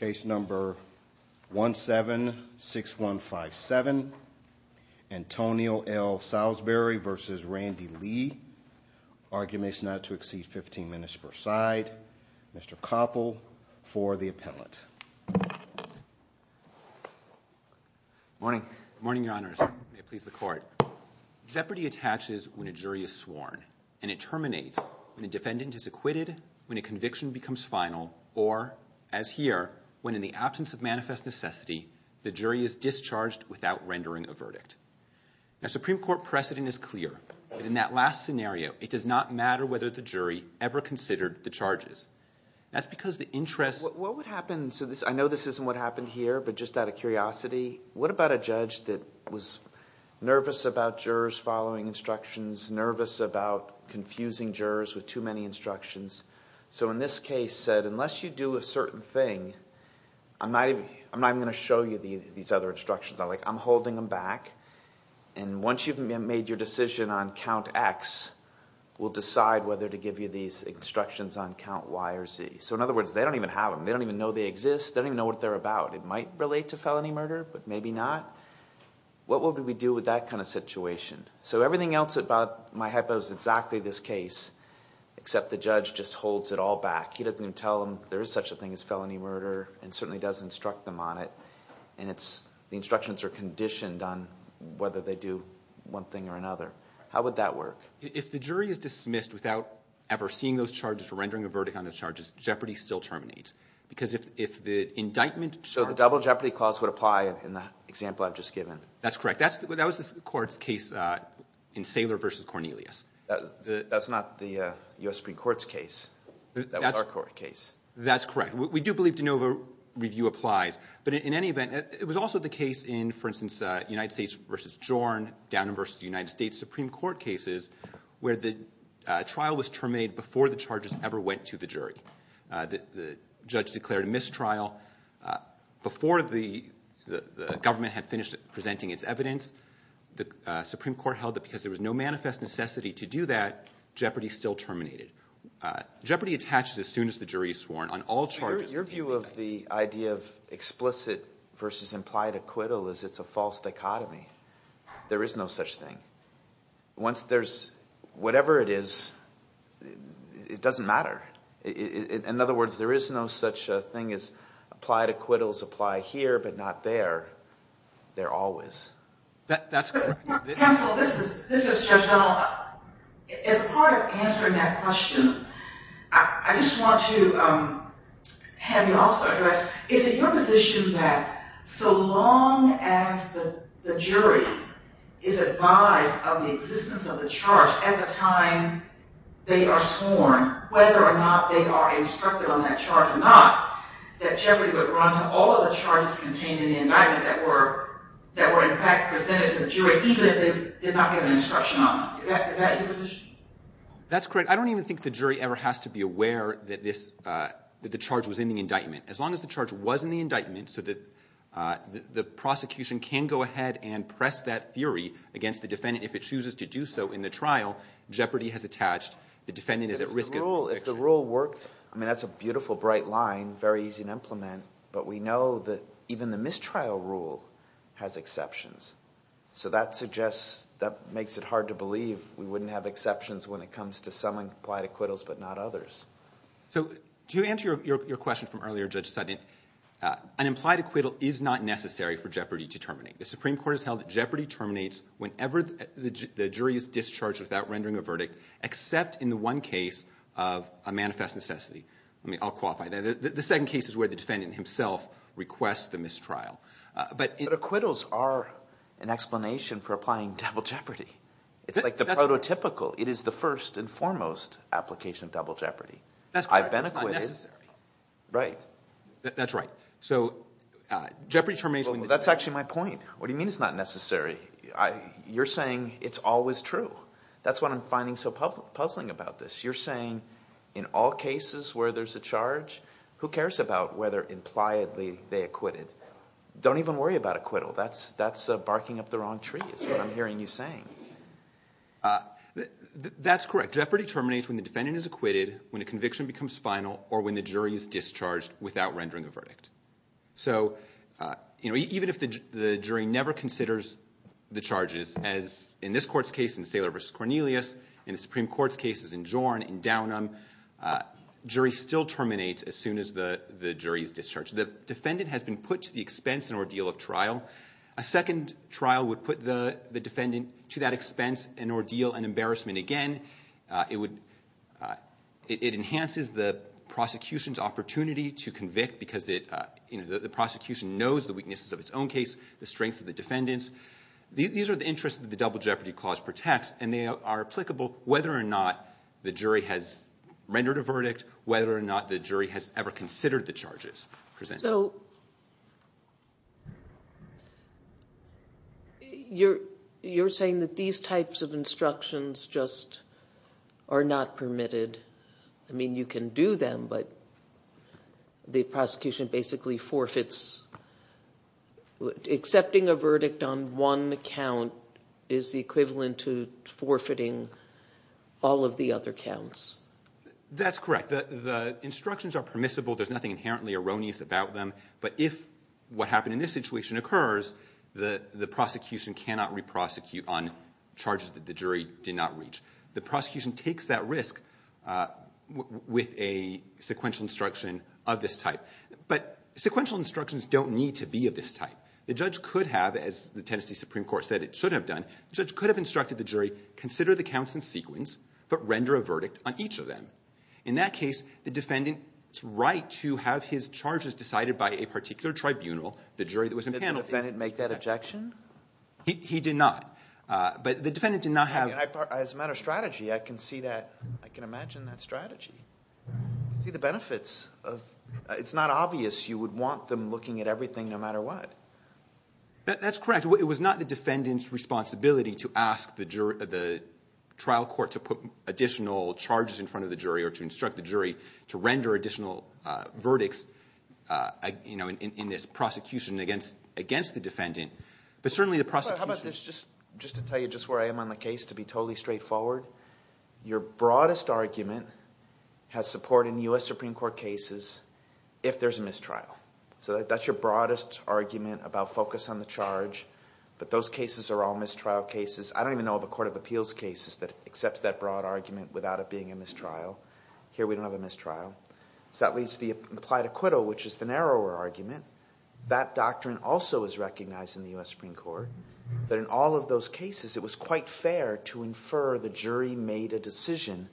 Case number 176157. Antonio L. Saulsberry v. Randy Lee. Arguments not to exceed 15 minutes per side. Mr. Koppel for the appellant. Good morning, your honors. May it please the court. Jeopardy attaches when a jury is sworn, and it terminates when the defendant is acquitted, when a conviction becomes final, or, as here, when in the absence of manifest necessity, the jury is discharged without rendering a verdict. Now, Supreme Court precedent is clear. In that last scenario, it does not matter whether the jury ever considered the charges. That's because the interest… What would happen – I know this isn't what happened here, but just out of curiosity, what about a judge that was nervous about jurors following instructions, nervous about confusing jurors with too many instructions? So in this case, unless you do a certain thing, I'm not even going to show you these other instructions. I'm holding them back, and once you've made your decision on count X, we'll decide whether to give you these instructions on count Y or Z. So in other words, they don't even have them. They don't even know they exist. They don't even know what they're about. It might relate to felony murder, but maybe not. What would we do with that kind of situation? So everything else about my hypo is exactly this case, except the judge just holds it all back. He doesn't even tell them there is such a thing as felony murder, and certainly doesn't instruct them on it. And the instructions are conditioned on whether they do one thing or another. How would that work? If the jury is dismissed without ever seeing those charges or rendering a verdict on the charges, jeopardy still terminates. Because if the indictment… So the double jeopardy clause would apply in the example I've just given? That's correct. That was the court's case in Saylor v. Cornelius. That's not the U.S. Supreme Court's case. That was our court case. That's correct. We do believe de novo review applies. But in any event, it was also the case in, for instance, United States v. Jorn, Downing v. United States Supreme Court cases, where the trial was terminated before the charges ever went to the jury. The judge declared a mistrial. Before the government had finished presenting its evidence, the Supreme Court held that because there was no manifest necessity to do that, jeopardy still terminated. Jeopardy attaches as soon as the jury is sworn on all charges. Your view of the idea of explicit versus implied acquittal is it's a false dichotomy. There is no such thing. Once there's whatever it is, it doesn't matter. In other words, there is no such thing as applied acquittals apply here but not there. They're always. That's correct. Counsel, this is Judge Donald. As part of answering that question, I just want to have you also address, is it your position that so long as the jury is advised of the existence of the charge at the time they are sworn, whether or not they are instructed on that charge or not, that jeopardy would run to all of the charges contained in the indictment that were in fact presented to the jury even if they did not get an instruction on them? Is that your position? That's correct. I don't even think the jury ever has to be aware that the charge was in the indictment. As long as the charge was in the indictment so that the prosecution can go ahead and press that theory against the defendant if it chooses to do so in the trial, jeopardy has attached. If the rule worked, that's a beautiful, bright line, very easy to implement, but we know that even the mistrial rule has exceptions. So that suggests, that makes it hard to believe we wouldn't have exceptions when it comes to some implied acquittals but not others. So to answer your question from earlier, Judge Sutton, an implied acquittal is not necessary for jeopardy to terminate. The Supreme Court has held that jeopardy terminates whenever the jury is discharged without rendering a verdict except in the one case of a manifest necessity. I'll qualify. The second case is where the defendant himself requests the mistrial. But acquittals are an explanation for applying double jeopardy. It's like the prototypical. It is the first and foremost application of double jeopardy. That's correct. It's not necessary. Right. That's right. So jeopardy termination – That's actually my point. What do you mean it's not necessary? You're saying it's always true. That's what I'm finding so puzzling about this. You're saying in all cases where there's a charge, who cares about whether impliedly they acquitted? Don't even worry about acquittal. That's barking up the wrong tree is what I'm hearing you saying. That's correct. Jeopardy terminates when the defendant is acquitted, when a conviction becomes final, or when the jury is discharged without rendering a verdict. So even if the jury never considers the charges, as in this court's case in Saylor v. Cornelius, in the Supreme Court's cases in Jorn and Downham, jury still terminates as soon as the jury is discharged. The defendant has been put to the expense and ordeal of trial. A second trial would put the defendant to that expense and ordeal and embarrassment again. It enhances the prosecution's opportunity to convict because the prosecution knows the weaknesses of its own case, the strengths of the defendants. These are the interests that the double jeopardy clause protects, and they are applicable whether or not the jury has rendered a verdict, whether or not the jury has ever considered the charges presented. So you're saying that these types of instructions just are not permitted. I mean, you can do them, but the prosecution basically forfeits. Accepting a verdict on one count is the equivalent to forfeiting all of the other counts. That's correct. The instructions are permissible. There's nothing inherently erroneous about them. But if what happened in this situation occurs, the prosecution cannot re-prosecute on charges that the jury did not reach. The prosecution takes that risk with a sequential instruction of this type. But sequential instructions don't need to be of this type. The judge could have, as the Tennessee Supreme Court said it should have done, the judge could have instructed the jury, consider the counts in sequence, but render a verdict on each of them. In that case, the defendant's right to have his charges decided by a particular tribunal, the jury that was in panel. Did the defendant make that objection? He did not. But the defendant did not have – As a matter of strategy, I can see that. I can imagine that strategy. See the benefits of – it's not obvious you would want them looking at everything no matter what. That's correct. It was not the defendant's responsibility to ask the trial court to put additional charges in front of the jury or to instruct the jury to render additional verdicts in this prosecution against the defendant. But certainly the prosecution – How about this? Just to tell you just where I am on the case to be totally straightforward. Your broadest argument has support in U.S. Supreme Court cases if there's a mistrial. So that's your broadest argument about focus on the charge. But those cases are all mistrial cases. I don't even know of a court of appeals case that accepts that broad argument without it being a mistrial. Here we don't have a mistrial. So that leads to the applied acquittal, which is the narrower argument. That doctrine also is recognized in the U.S. Supreme Court. But in all of those cases, it was quite fair to infer the jury made a decision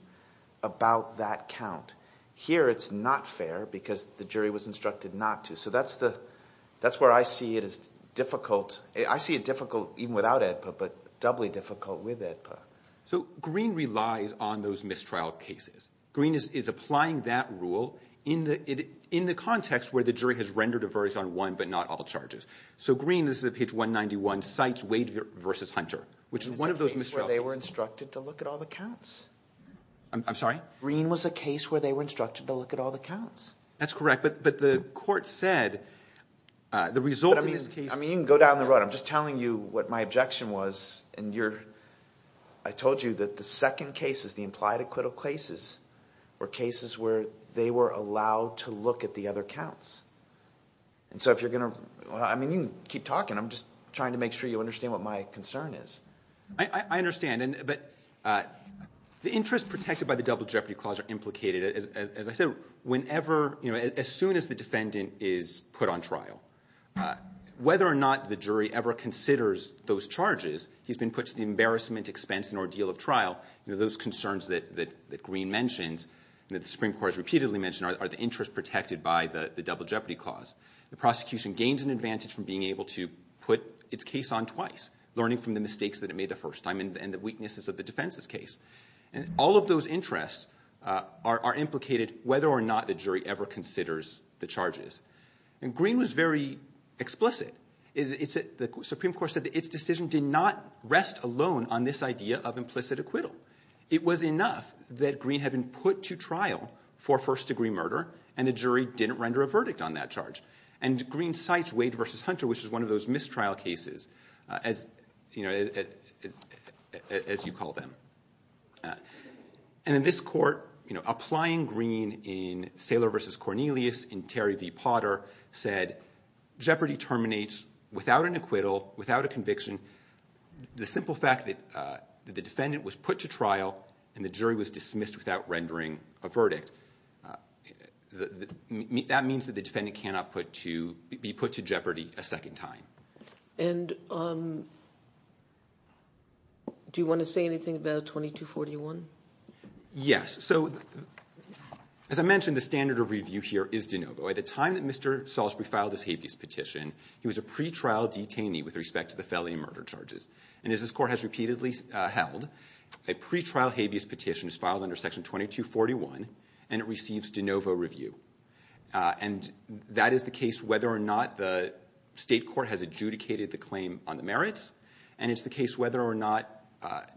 about that count. Here it's not fair because the jury was instructed not to. So that's where I see it as difficult. I see it difficult even without AEDPA but doubly difficult with AEDPA. So Greene relies on those mistrial cases. Greene is applying that rule in the context where the jury has rendered a verdict on one but not all charges. So Greene – this is at page 191 – cites Wade v. Hunter, which is one of those mistrial cases. It's a case where they were instructed to look at all the counts. I'm sorry? Greene was a case where they were instructed to look at all the counts. That's correct, but the court said the result of this case – I mean you can go down the road. I'm just telling you what my objection was, and you're – I told you that the second cases, the implied acquittal cases, were cases where they were allowed to look at the other counts. And so if you're going to – I mean you can keep talking. I'm just trying to make sure you understand what my concern is. I understand, but the interests protected by the Double Jeopardy Clause are implicated, as I said, whenever – as soon as the defendant is put on trial. Whether or not the jury ever considers those charges, he's been put to the embarrassment, expense, and ordeal of trial. Those concerns that Greene mentions and that the Supreme Court has repeatedly mentioned are the interests protected by the Double Jeopardy Clause. The prosecution gains an advantage from being able to put its case on twice, learning from the mistakes that it made the first time and the weaknesses of the defense's case. And all of those interests are implicated whether or not the jury ever considers the charges. And Greene was very explicit. The Supreme Court said that its decision did not rest alone on this idea of implicit acquittal. It was enough that Greene had been put to trial for first-degree murder, and the jury didn't render a verdict on that charge. And Greene cites Wade v. Hunter, which is one of those mistrial cases, as you call them. And in this court, applying Greene in Saylor v. Cornelius, in Terry v. Potter, said jeopardy terminates without an acquittal, without a conviction, the simple fact that the defendant was put to trial and the jury was dismissed without rendering a verdict. That means that the defendant cannot be put to jeopardy a second time. And do you want to say anything about 2241? Yes. So as I mentioned, the standard of review here is de novo. At the time that Mr. Salisbury filed his habeas petition, he was a pretrial detainee with respect to the felony murder charges. And as this court has repeatedly held, a pretrial habeas petition is filed under Section 2241 and it receives de novo review. And that is the case whether or not the state court has adjudicated the claim on the merits, and it's the case whether or not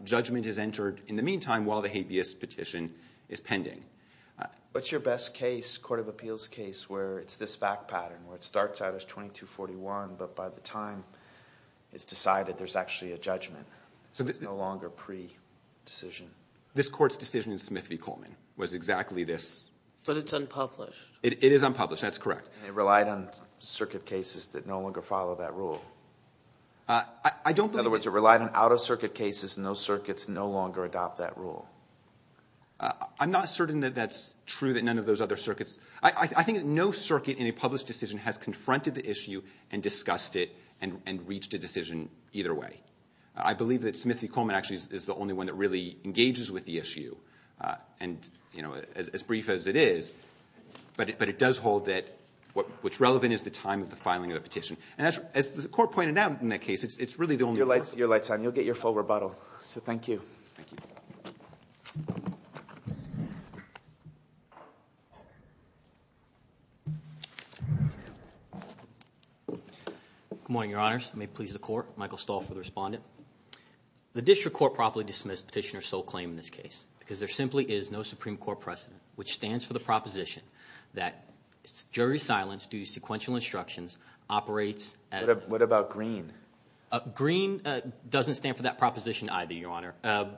judgment is entered in the meantime while the habeas petition is pending. What's your best case, court of appeals case, where it's this back pattern, where it starts out as 2241, but by the time it's decided there's actually a judgment? It's no longer pre-decision? This court's decision in Smith v. Coleman was exactly this. But it's unpublished. It is unpublished. That's correct. And it relied on circuit cases that no longer follow that rule. I don't believe it. In other words, it relied on out-of-circuit cases and those circuits no longer adopt that rule. I'm not certain that that's true, that none of those other circuits. I think that no circuit in a published decision has confronted the issue and discussed it and reached a decision either way. I believe that Smith v. Coleman actually is the only one that really engages with the issue, and as brief as it is, but it does hold that what's relevant is the time of the filing of the petition. And as the court pointed out in that case, it's really the only one. Your light's on. You'll get your full rebuttal. So thank you. Thank you. Good morning, Your Honors. It may please the court. Michael Stolf for the respondent. The district court properly dismissed Petitioner's sole claim in this case because there simply is no Supreme Court precedent, which stands for the proposition that jury silence due to sequential instructions operates as a – What about Green? Green doesn't stand for that proposition either, Your Honor.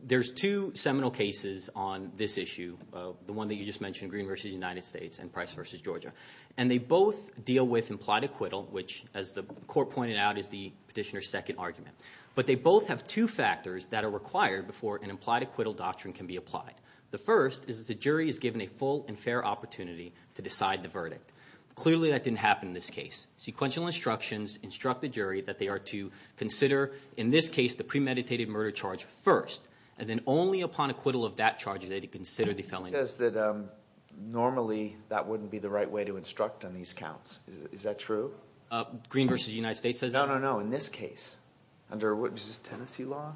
There's two seminal cases on this issue, the one that you just mentioned, Green v. United States and Price v. Georgia. And they both deal with implied acquittal, which, as the court pointed out, is the petitioner's second argument. But they both have two factors that are required before an implied acquittal doctrine can be applied. The first is that the jury is given a full and fair opportunity to decide the verdict. Clearly that didn't happen in this case. Sequential instructions instruct the jury that they are to consider, in this case, the premeditated murder charge first, and then only upon acquittal of that charge are they to consider the felony. He says that normally that wouldn't be the right way to instruct on these counts. Is that true? Green v. United States says that. No, no, no, in this case, under – is this Tennessee law?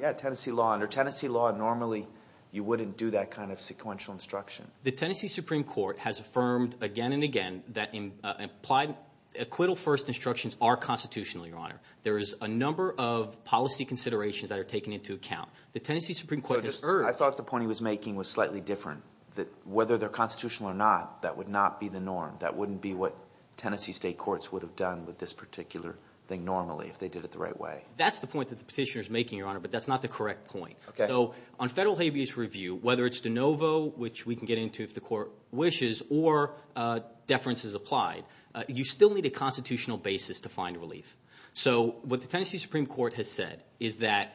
Yeah, Tennessee law. Under Tennessee law, normally you wouldn't do that kind of sequential instruction. The Tennessee Supreme Court has affirmed again and again that implied acquittal first instructions are constitutional, Your Honor. There is a number of policy considerations that are taken into account. The Tennessee Supreme Court has erred. I thought the point he was making was slightly different, that whether they're constitutional or not, that would not be the norm. That wouldn't be what Tennessee state courts would have done with this particular thing normally if they did it the right way. That's the point that the petitioner is making, Your Honor, but that's not the correct point. So on federal habeas review, whether it's de novo, which we can get into if the court wishes, or deference is applied, you still need a constitutional basis to find relief. So what the Tennessee Supreme Court has said is that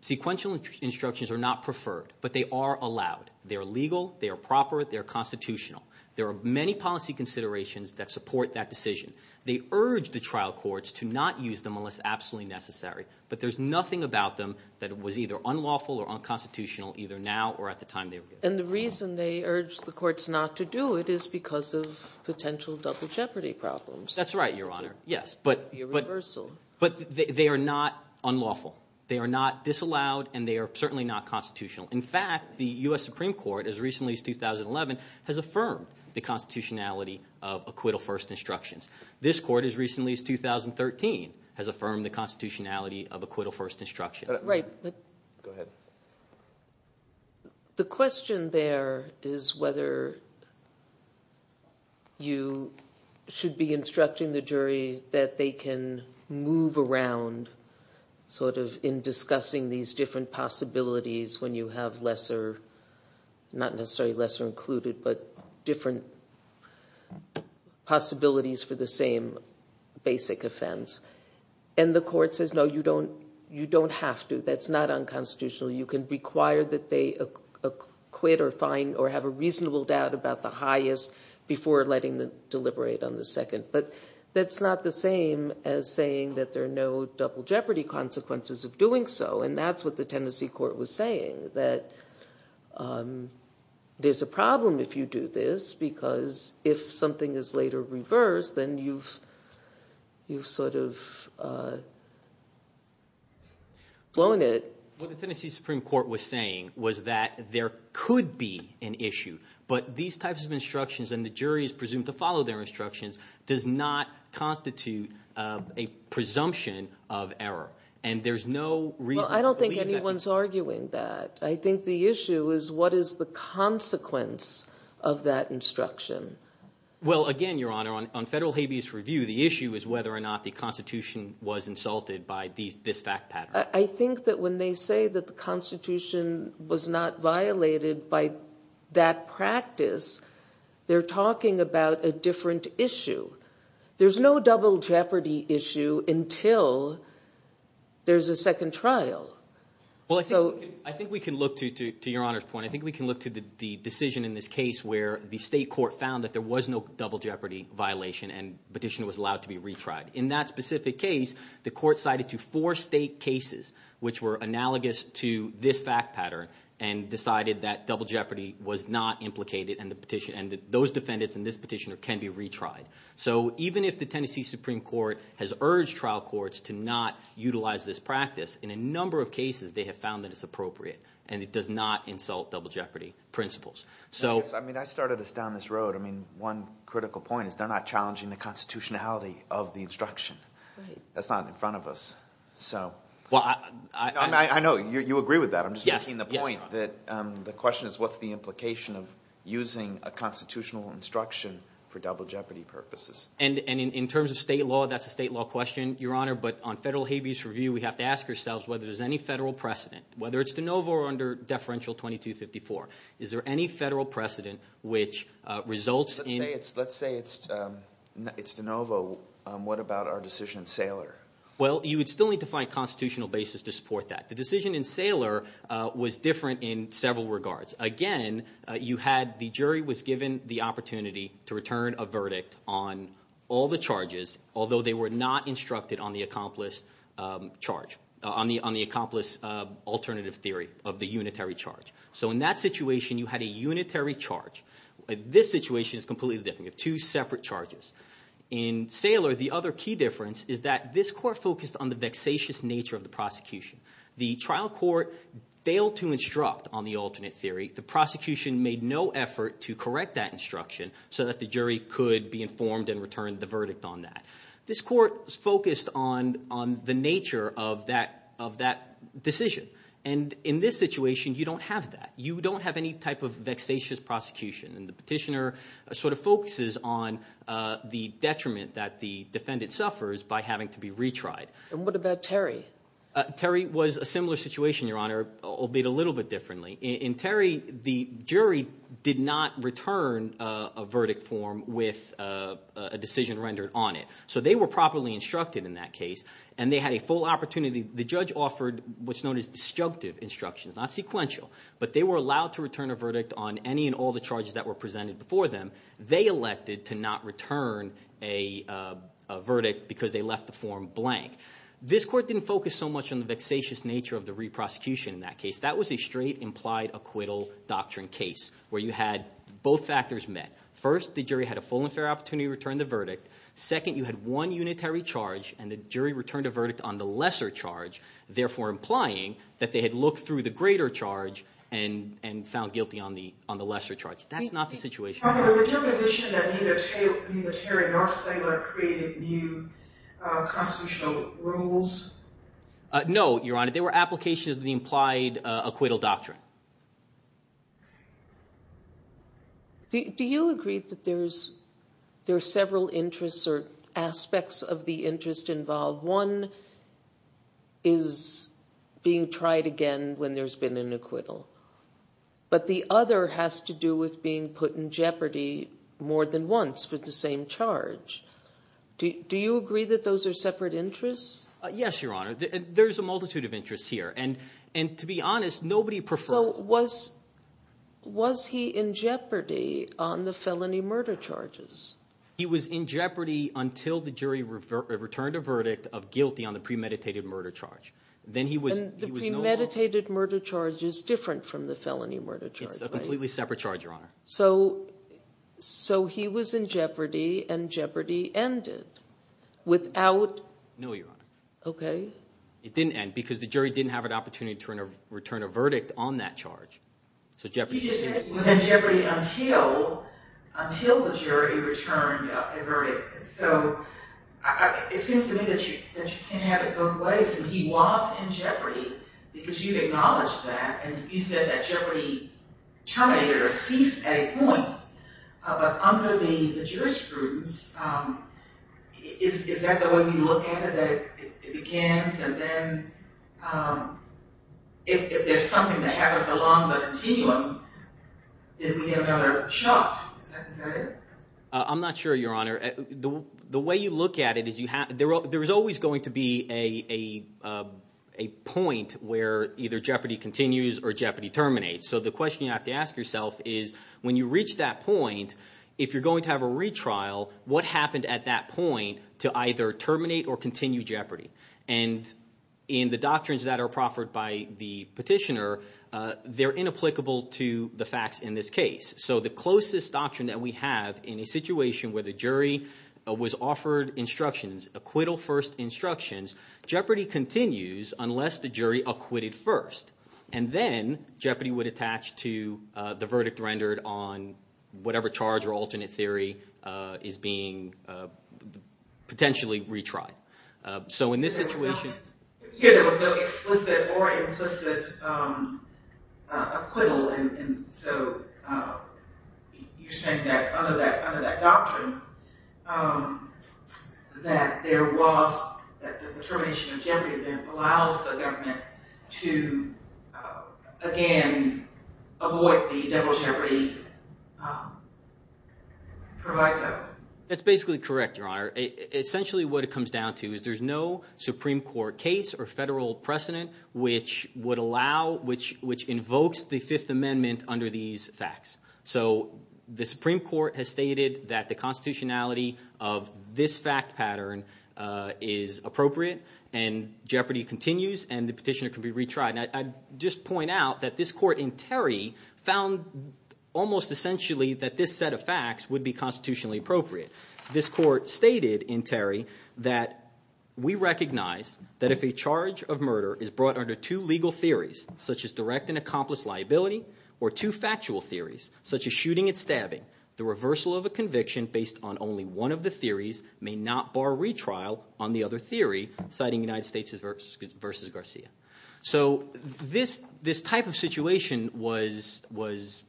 sequential instructions are not preferred, but they are allowed. They are legal. They are proper. They are constitutional. There are many policy considerations that support that decision. They urge the trial courts to not use them unless absolutely necessary, but there's nothing about them that was either unlawful or unconstitutional either now or at the time they were given. And the reason they urge the courts not to do it is because of potential double jeopardy problems. That's right, Your Honor, yes. But they are not unlawful. They are not disallowed, and they are certainly not constitutional. In fact, the U.S. Supreme Court as recently as 2011 has affirmed the constitutionality of acquittal-first instructions. This court as recently as 2013 has affirmed the constitutionality of acquittal-first instructions. Right. Go ahead. The question there is whether you should be instructing the jury that they can move around sort of in discussing these different possibilities when you have lesser, not necessarily lesser included, but different possibilities for the same basic offense. And the court says, no, you don't have to. That's not unconstitutional. You can require that they acquit or find or have a reasonable doubt about the highest before letting them deliberate on the second. But that's not the same as saying that there are no double jeopardy consequences of doing so, and that's what the Tennessee court was saying, that there's a problem if you do this, because if something is later reversed, then you've sort of blown it. What the Tennessee Supreme Court was saying was that there could be an issue, but these types of instructions and the jury is presumed to follow their instructions does not constitute a presumption of error. And there's no reason to believe that. Well, I don't think anyone's arguing that. I think the issue is what is the consequence of that instruction? Well, again, Your Honor, on federal habeas review, the issue is whether or not the Constitution was insulted by this fact pattern. I think that when they say that the Constitution was not violated by that practice, they're talking about a different issue. There's no double jeopardy issue until there's a second trial. Well, I think we can look to Your Honor's point. I think we can look to the decision in this case where the state court found that there was no double jeopardy violation, and the petitioner was allowed to be retried. In that specific case, the court cited to four state cases, which were analogous to this fact pattern, and decided that double jeopardy was not implicated, and that those defendants and this petitioner can be retried. So even if the Tennessee Supreme Court has urged trial courts to not utilize this practice, in a number of cases they have found that it's appropriate, and it does not insult double jeopardy principles. I mean, I started this down this road. I mean, one critical point is they're not challenging the constitutionality of the instruction. That's not in front of us. I know. You agree with that. I'm just making the point that the question is what's the implication of using a constitutional instruction for double jeopardy purposes. And in terms of state law, that's a state law question, Your Honor. But on federal habeas review, we have to ask ourselves whether there's any federal precedent, whether it's de novo or under deferential 2254. Is there any federal precedent which results in – Let's say it's de novo. What about our decision in Saylor? Well, you would still need to find a constitutional basis to support that. The decision in Saylor was different in several regards. Again, you had the jury was given the opportunity to return a verdict on all the charges, although they were not instructed on the accomplice charge, on the accomplice alternative theory of the unitary charge. So in that situation, you had a unitary charge. This situation is completely different. You have two separate charges. In Saylor, the other key difference is that this court focused on the vexatious nature of the prosecution. The trial court failed to instruct on the alternate theory. The prosecution made no effort to correct that instruction so that the jury could be informed and return the verdict on that. This court focused on the nature of that decision. And in this situation, you don't have that. You don't have any type of vexatious prosecution. And the petitioner sort of focuses on the detriment that the defendant suffers by having to be retried. And what about Terry? Terry was a similar situation, Your Honor, albeit a little bit differently. In Terry, the jury did not return a verdict form with a decision rendered on it. So they were properly instructed in that case, and they had a full opportunity. The judge offered what's known as destructive instructions, not sequential. But they were allowed to return a verdict on any and all the charges that were presented before them. They elected to not return a verdict because they left the form blank. This court didn't focus so much on the vexatious nature of the re-prosecution in that case. That was a straight implied acquittal doctrine case where you had both factors met. First, the jury had a full and fair opportunity to return the verdict. Second, you had one unitary charge, and the jury returned a verdict on the lesser charge, therefore implying that they had looked through the greater charge and found guilty on the lesser charge. That's not the situation. But was there a position that neither Terry nor Stengler created new constitutional rules? No, Your Honor. They were applications of the implied acquittal doctrine. Do you agree that there are several interests or aspects of the interest involved? One is being tried again when there's been an acquittal. But the other has to do with being put in jeopardy more than once with the same charge. Do you agree that those are separate interests? Yes, Your Honor. There's a multitude of interests here. And to be honest, nobody preferred— So was he in jeopardy on the felony murder charges? He was in jeopardy until the jury returned a verdict of guilty on the premeditated murder charge. And the premeditated murder charge is different from the felony murder charge, right? It's a completely separate charge, Your Honor. So he was in jeopardy and jeopardy ended without— No, Your Honor. Okay. It didn't end because the jury didn't have an opportunity to return a verdict on that charge. He just said he was in jeopardy until the jury returned a verdict. So it seems to me that you can have it both ways. He was in jeopardy because you acknowledged that and you said that jeopardy terminated or ceased at a point. But under the jurisprudence, is that the way we look at it? It begins and then if there's something that happens along the continuum, then we have another shot. Is that it? I'm not sure, Your Honor. The way you look at it is there is always going to be a point where either jeopardy continues or jeopardy terminates. So the question you have to ask yourself is when you reach that point, if you're going to have a retrial, what happened at that point to either terminate or continue jeopardy? And in the doctrines that are proffered by the petitioner, they're inapplicable to the facts in this case. So the closest doctrine that we have in a situation where the jury was offered instructions, acquittal first instructions, jeopardy continues unless the jury acquitted first. And then jeopardy would attach to the verdict rendered on whatever charge or alternate theory is being potentially retried. Here there was no explicit or implicit acquittal, and so you're saying that under that doctrine that there was – that the termination of jeopardy then allows the government to again avoid the general jeopardy proviso. That's basically correct, Your Honor. Essentially what it comes down to is there's no Supreme Court case or federal precedent which would allow – which invokes the Fifth Amendment under these facts. So the Supreme Court has stated that the constitutionality of this fact pattern is appropriate, and jeopardy continues, and the petitioner can be retried. And I'd just point out that this court in Terry found almost essentially that this set of facts would be constitutionally appropriate. This court stated in Terry that we recognize that if a charge of murder is brought under two legal theories, such as direct and accomplice liability, or two factual theories, such as shooting and stabbing, the reversal of a conviction based on only one of the theories may not bar retrial on the other theory, citing United States v. Garcia. So this type of situation was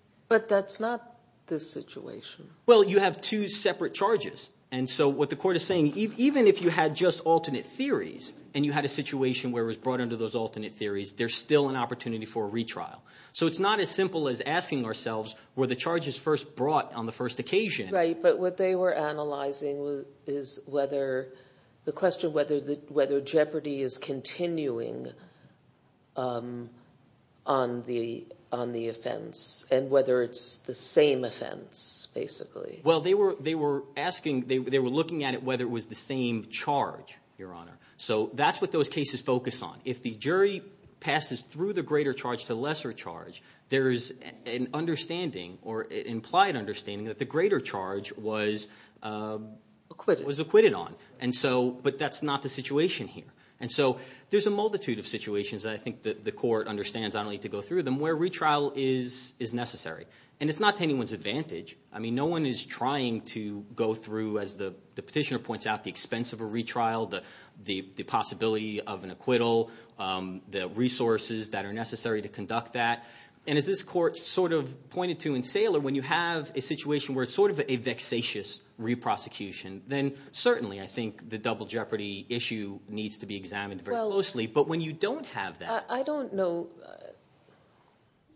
– But that's not this situation. Well, you have two separate charges. And so what the court is saying, even if you had just alternate theories and you had a situation where it was brought under those alternate theories, there's still an opportunity for a retrial. So it's not as simple as asking ourselves, were the charges first brought on the first occasion? Right, but what they were analyzing is whether – the question whether jeopardy is continuing on the offense and whether it's the same offense basically. Well, they were asking – they were looking at it whether it was the same charge, Your Honor. So that's what those cases focus on. If the jury passes through the greater charge to the lesser charge, there is an understanding or implied understanding that the greater charge was acquitted on. And so – but that's not the situation here. And so there's a multitude of situations that I think the court understands not only to go through them where retrial is necessary. And it's not to anyone's advantage. I mean no one is trying to go through, as the petitioner points out, the expense of a retrial, the possibility of an acquittal, the resources that are necessary to conduct that. And as this court sort of pointed to in Saylor, when you have a situation where it's sort of a vexatious reprosecution, then certainly I think the double jeopardy issue needs to be examined very closely. But when you don't have that – I don't know.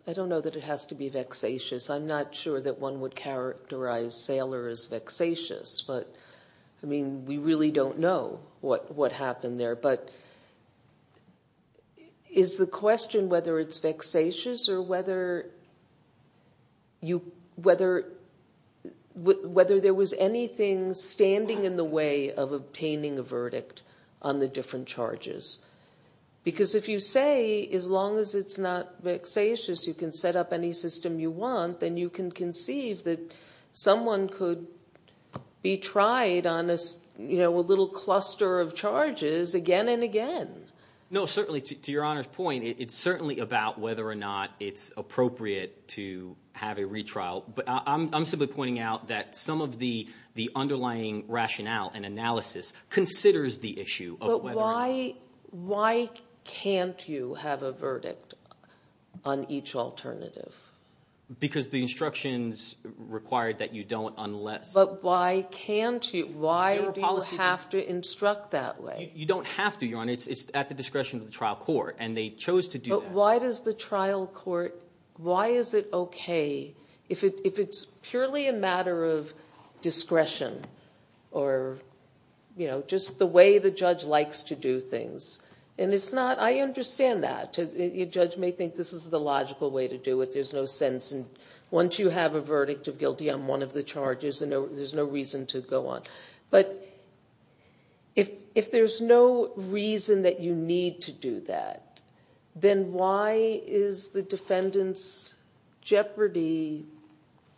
I don't know that it has to be vexatious. I'm not sure that one would characterize Saylor as vexatious. But, I mean, we really don't know what happened there. But is the question whether it's vexatious or whether there was anything standing in the way of obtaining a verdict on the different charges? Because if you say as long as it's not vexatious, you can set up any system you want, then you can conceive that someone could be tried on a little cluster of charges again and again. No, certainly, to Your Honor's point, it's certainly about whether or not it's appropriate to have a retrial. But I'm simply pointing out that some of the underlying rationale and analysis considers the issue of whether or not. Why can't you have a verdict on each alternative? Because the instructions require that you don't unless – But why can't you? Why do you have to instruct that way? You don't have to, Your Honor. It's at the discretion of the trial court, and they chose to do that. But why does the trial court – why is it okay? If it's purely a matter of discretion or just the way the judge likes to do things, and it's not – I understand that. A judge may think this is the logical way to do it. There's no sense. And once you have a verdict of guilty on one of the charges, there's no reason to go on. But if there's no reason that you need to do that, then why is the defendant's jeopardy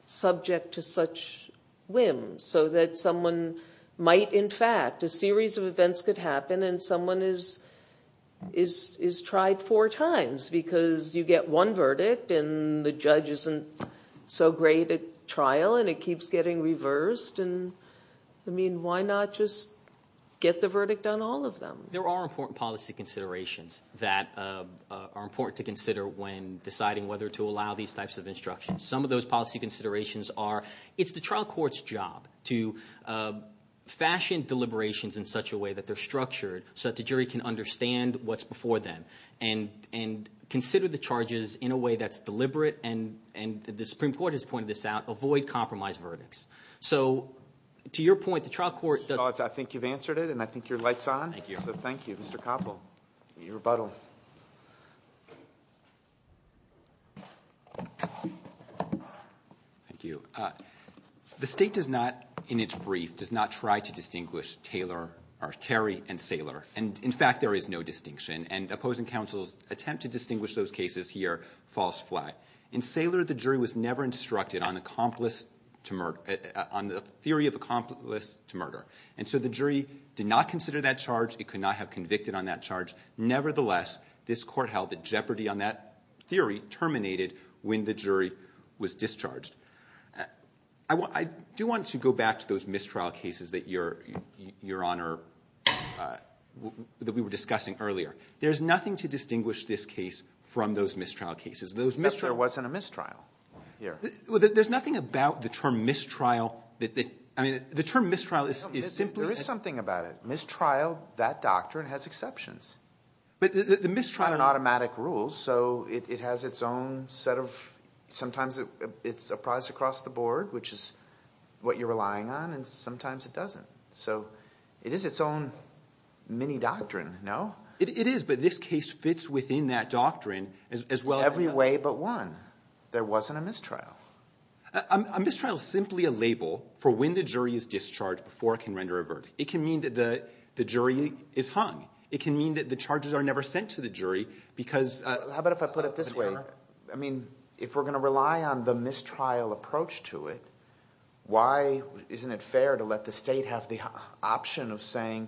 subject to such whims? So that someone might, in fact – a series of events could happen, and someone is tried four times because you get one verdict, and the judge isn't so great at trial, and it keeps getting reversed. And, I mean, why not just get the verdict on all of them? There are important policy considerations that are important to consider when deciding whether to allow these types of instructions. Some of those policy considerations are it's the trial court's job to fashion deliberations in such a way that they're structured so that the jury can understand what's before them and consider the charges in a way that's deliberate, and the Supreme Court has pointed this out, avoid compromised verdicts. So to your point, the trial court does – I think you've answered it, and I think your light's on. Thank you. So thank you, Mr. Koppel. Your rebuttal. Thank you. The State does not, in its brief, does not try to distinguish Taylor or Terry and Saylor. And, in fact, there is no distinction. And opposing counsel's attempt to distinguish those cases here falls flat. In Saylor, the jury was never instructed on the theory of accomplice to murder. And so the jury did not consider that charge. It could not have convicted on that charge. I do want to go back to those mistrial cases that your Honor – that we were discussing earlier. There's nothing to distinguish this case from those mistrial cases. Except there wasn't a mistrial here. There's nothing about the term mistrial that – I mean, the term mistrial is simply – There is something about it. Mistrial, that doctrine has exceptions. But the mistrial – which is what you're relying on, and sometimes it doesn't. So it is its own mini-doctrine, no? It is, but this case fits within that doctrine as well as – Every way but one. There wasn't a mistrial. A mistrial is simply a label for when the jury is discharged before it can render a verdict. It can mean that the jury is hung. It can mean that the charges are never sent to the jury because – How about if I put it this way? I mean, if we're going to rely on the mistrial approach to it, why isn't it fair to let the state have the option of saying,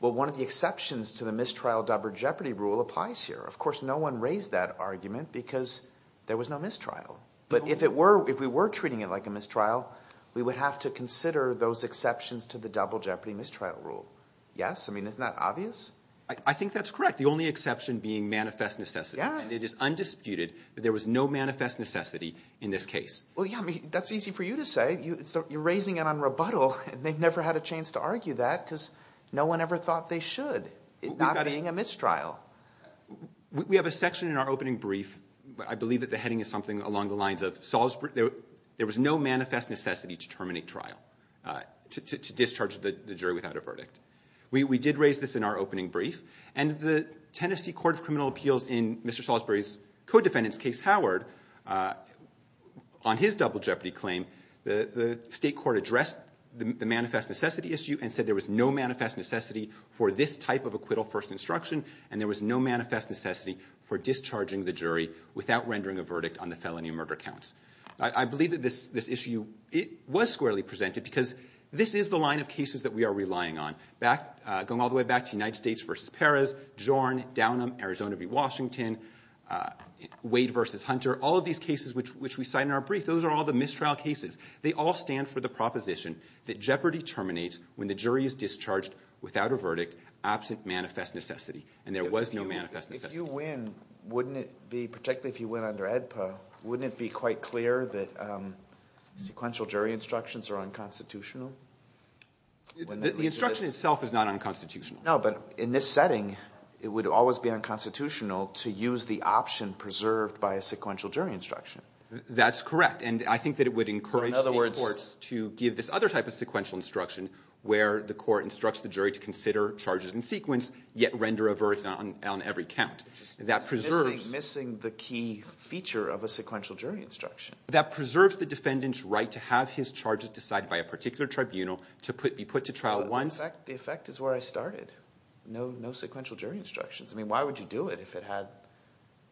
well, one of the exceptions to the mistrial double jeopardy rule applies here. Of course, no one raised that argument because there was no mistrial. But if we were treating it like a mistrial, we would have to consider those exceptions to the double jeopardy mistrial rule. Yes? I mean, isn't that obvious? I think that's correct. The only exception being manifest necessity. And it is undisputed that there was no manifest necessity in this case. Well, yeah, I mean, that's easy for you to say. You're raising it on rebuttal. They've never had a chance to argue that because no one ever thought they should, not being a mistrial. We have a section in our opening brief. I believe that the heading is something along the lines of, there was no manifest necessity to terminate trial, to discharge the jury without a verdict. We did raise this in our opening brief. And the Tennessee Court of Criminal Appeals, in Mr. Salisbury's co-defendant's case, Howard, on his double jeopardy claim, the state court addressed the manifest necessity issue and said there was no manifest necessity for this type of acquittal first instruction, and there was no manifest necessity for discharging the jury without rendering a verdict on the felony murder counts. I believe that this issue was squarely presented because this is the line of cases that we are relying on, going all the way back to United States v. Perez, Jorn, Downham, Arizona v. Washington, Wade v. Hunter, all of these cases which we cite in our brief, those are all the mistrial cases. They all stand for the proposition that jeopardy terminates when the jury is discharged without a verdict, absent manifest necessity. And there was no manifest necessity. If you win, wouldn't it be, particularly if you win under AEDPA, wouldn't it be quite clear that sequential jury instructions are unconstitutional? The instruction itself is not unconstitutional. No, but in this setting, it would always be unconstitutional to use the option preserved by a sequential jury instruction. That's correct, and I think that it would encourage the courts to give this other type of sequential instruction where the court instructs the jury to consider charges in sequence yet render a verdict on every count. That preserves... Missing the key feature of a sequential jury instruction. That preserves the defendant's right to have his charges decided by a particular tribunal to be put to trial once... But the effect is where I started. No sequential jury instructions. I mean, why would you do it if it had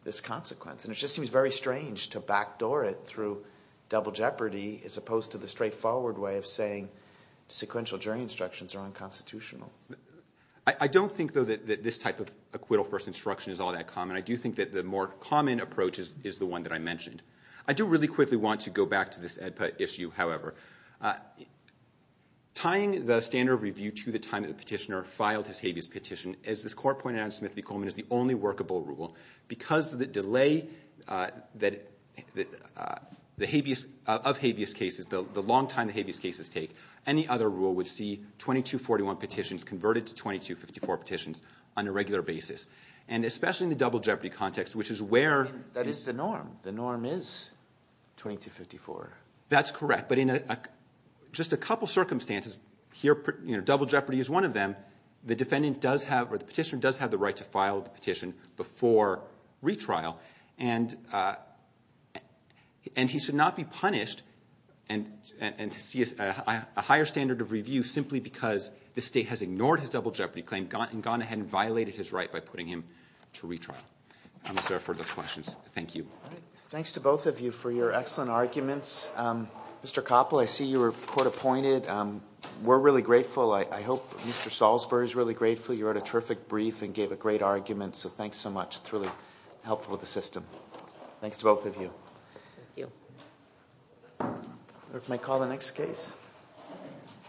this consequence? And it just seems very strange to backdoor it through double jeopardy as opposed to the straightforward way of saying sequential jury instructions are unconstitutional. I don't think, though, that this type of acquittal-first instruction is all that common. I do think that the more common approach is the one that I mentioned. I do really quickly want to go back to this issue, however. Tying the standard of review to the time that the petitioner filed his habeas petition, as this court pointed out in Smith v. Coleman, is the only workable rule. Because of the delay of habeas cases, the long time the habeas cases take, any other rule would see 2241 petitions converted to 2254 petitions on a regular basis. And especially in the double jeopardy context, which is where... It is 2254. That's correct. But in just a couple circumstances, here double jeopardy is one of them, the petitioner does have the right to file the petition before retrial. And he should not be punished and see a higher standard of review simply because the State has ignored his double jeopardy claim and gone ahead and violated his right by putting him to retrial. I'm sorry for those questions. Thank you. Thanks to both of you for your excellent arguments. Mr. Koppel, I see you were court appointed. We're really grateful. I hope Mr. Salzberg is really grateful. You wrote a terrific brief and gave a great argument. So thanks so much. It's really helpful to the system. Thanks to both of you. Thank you. May I call the next case?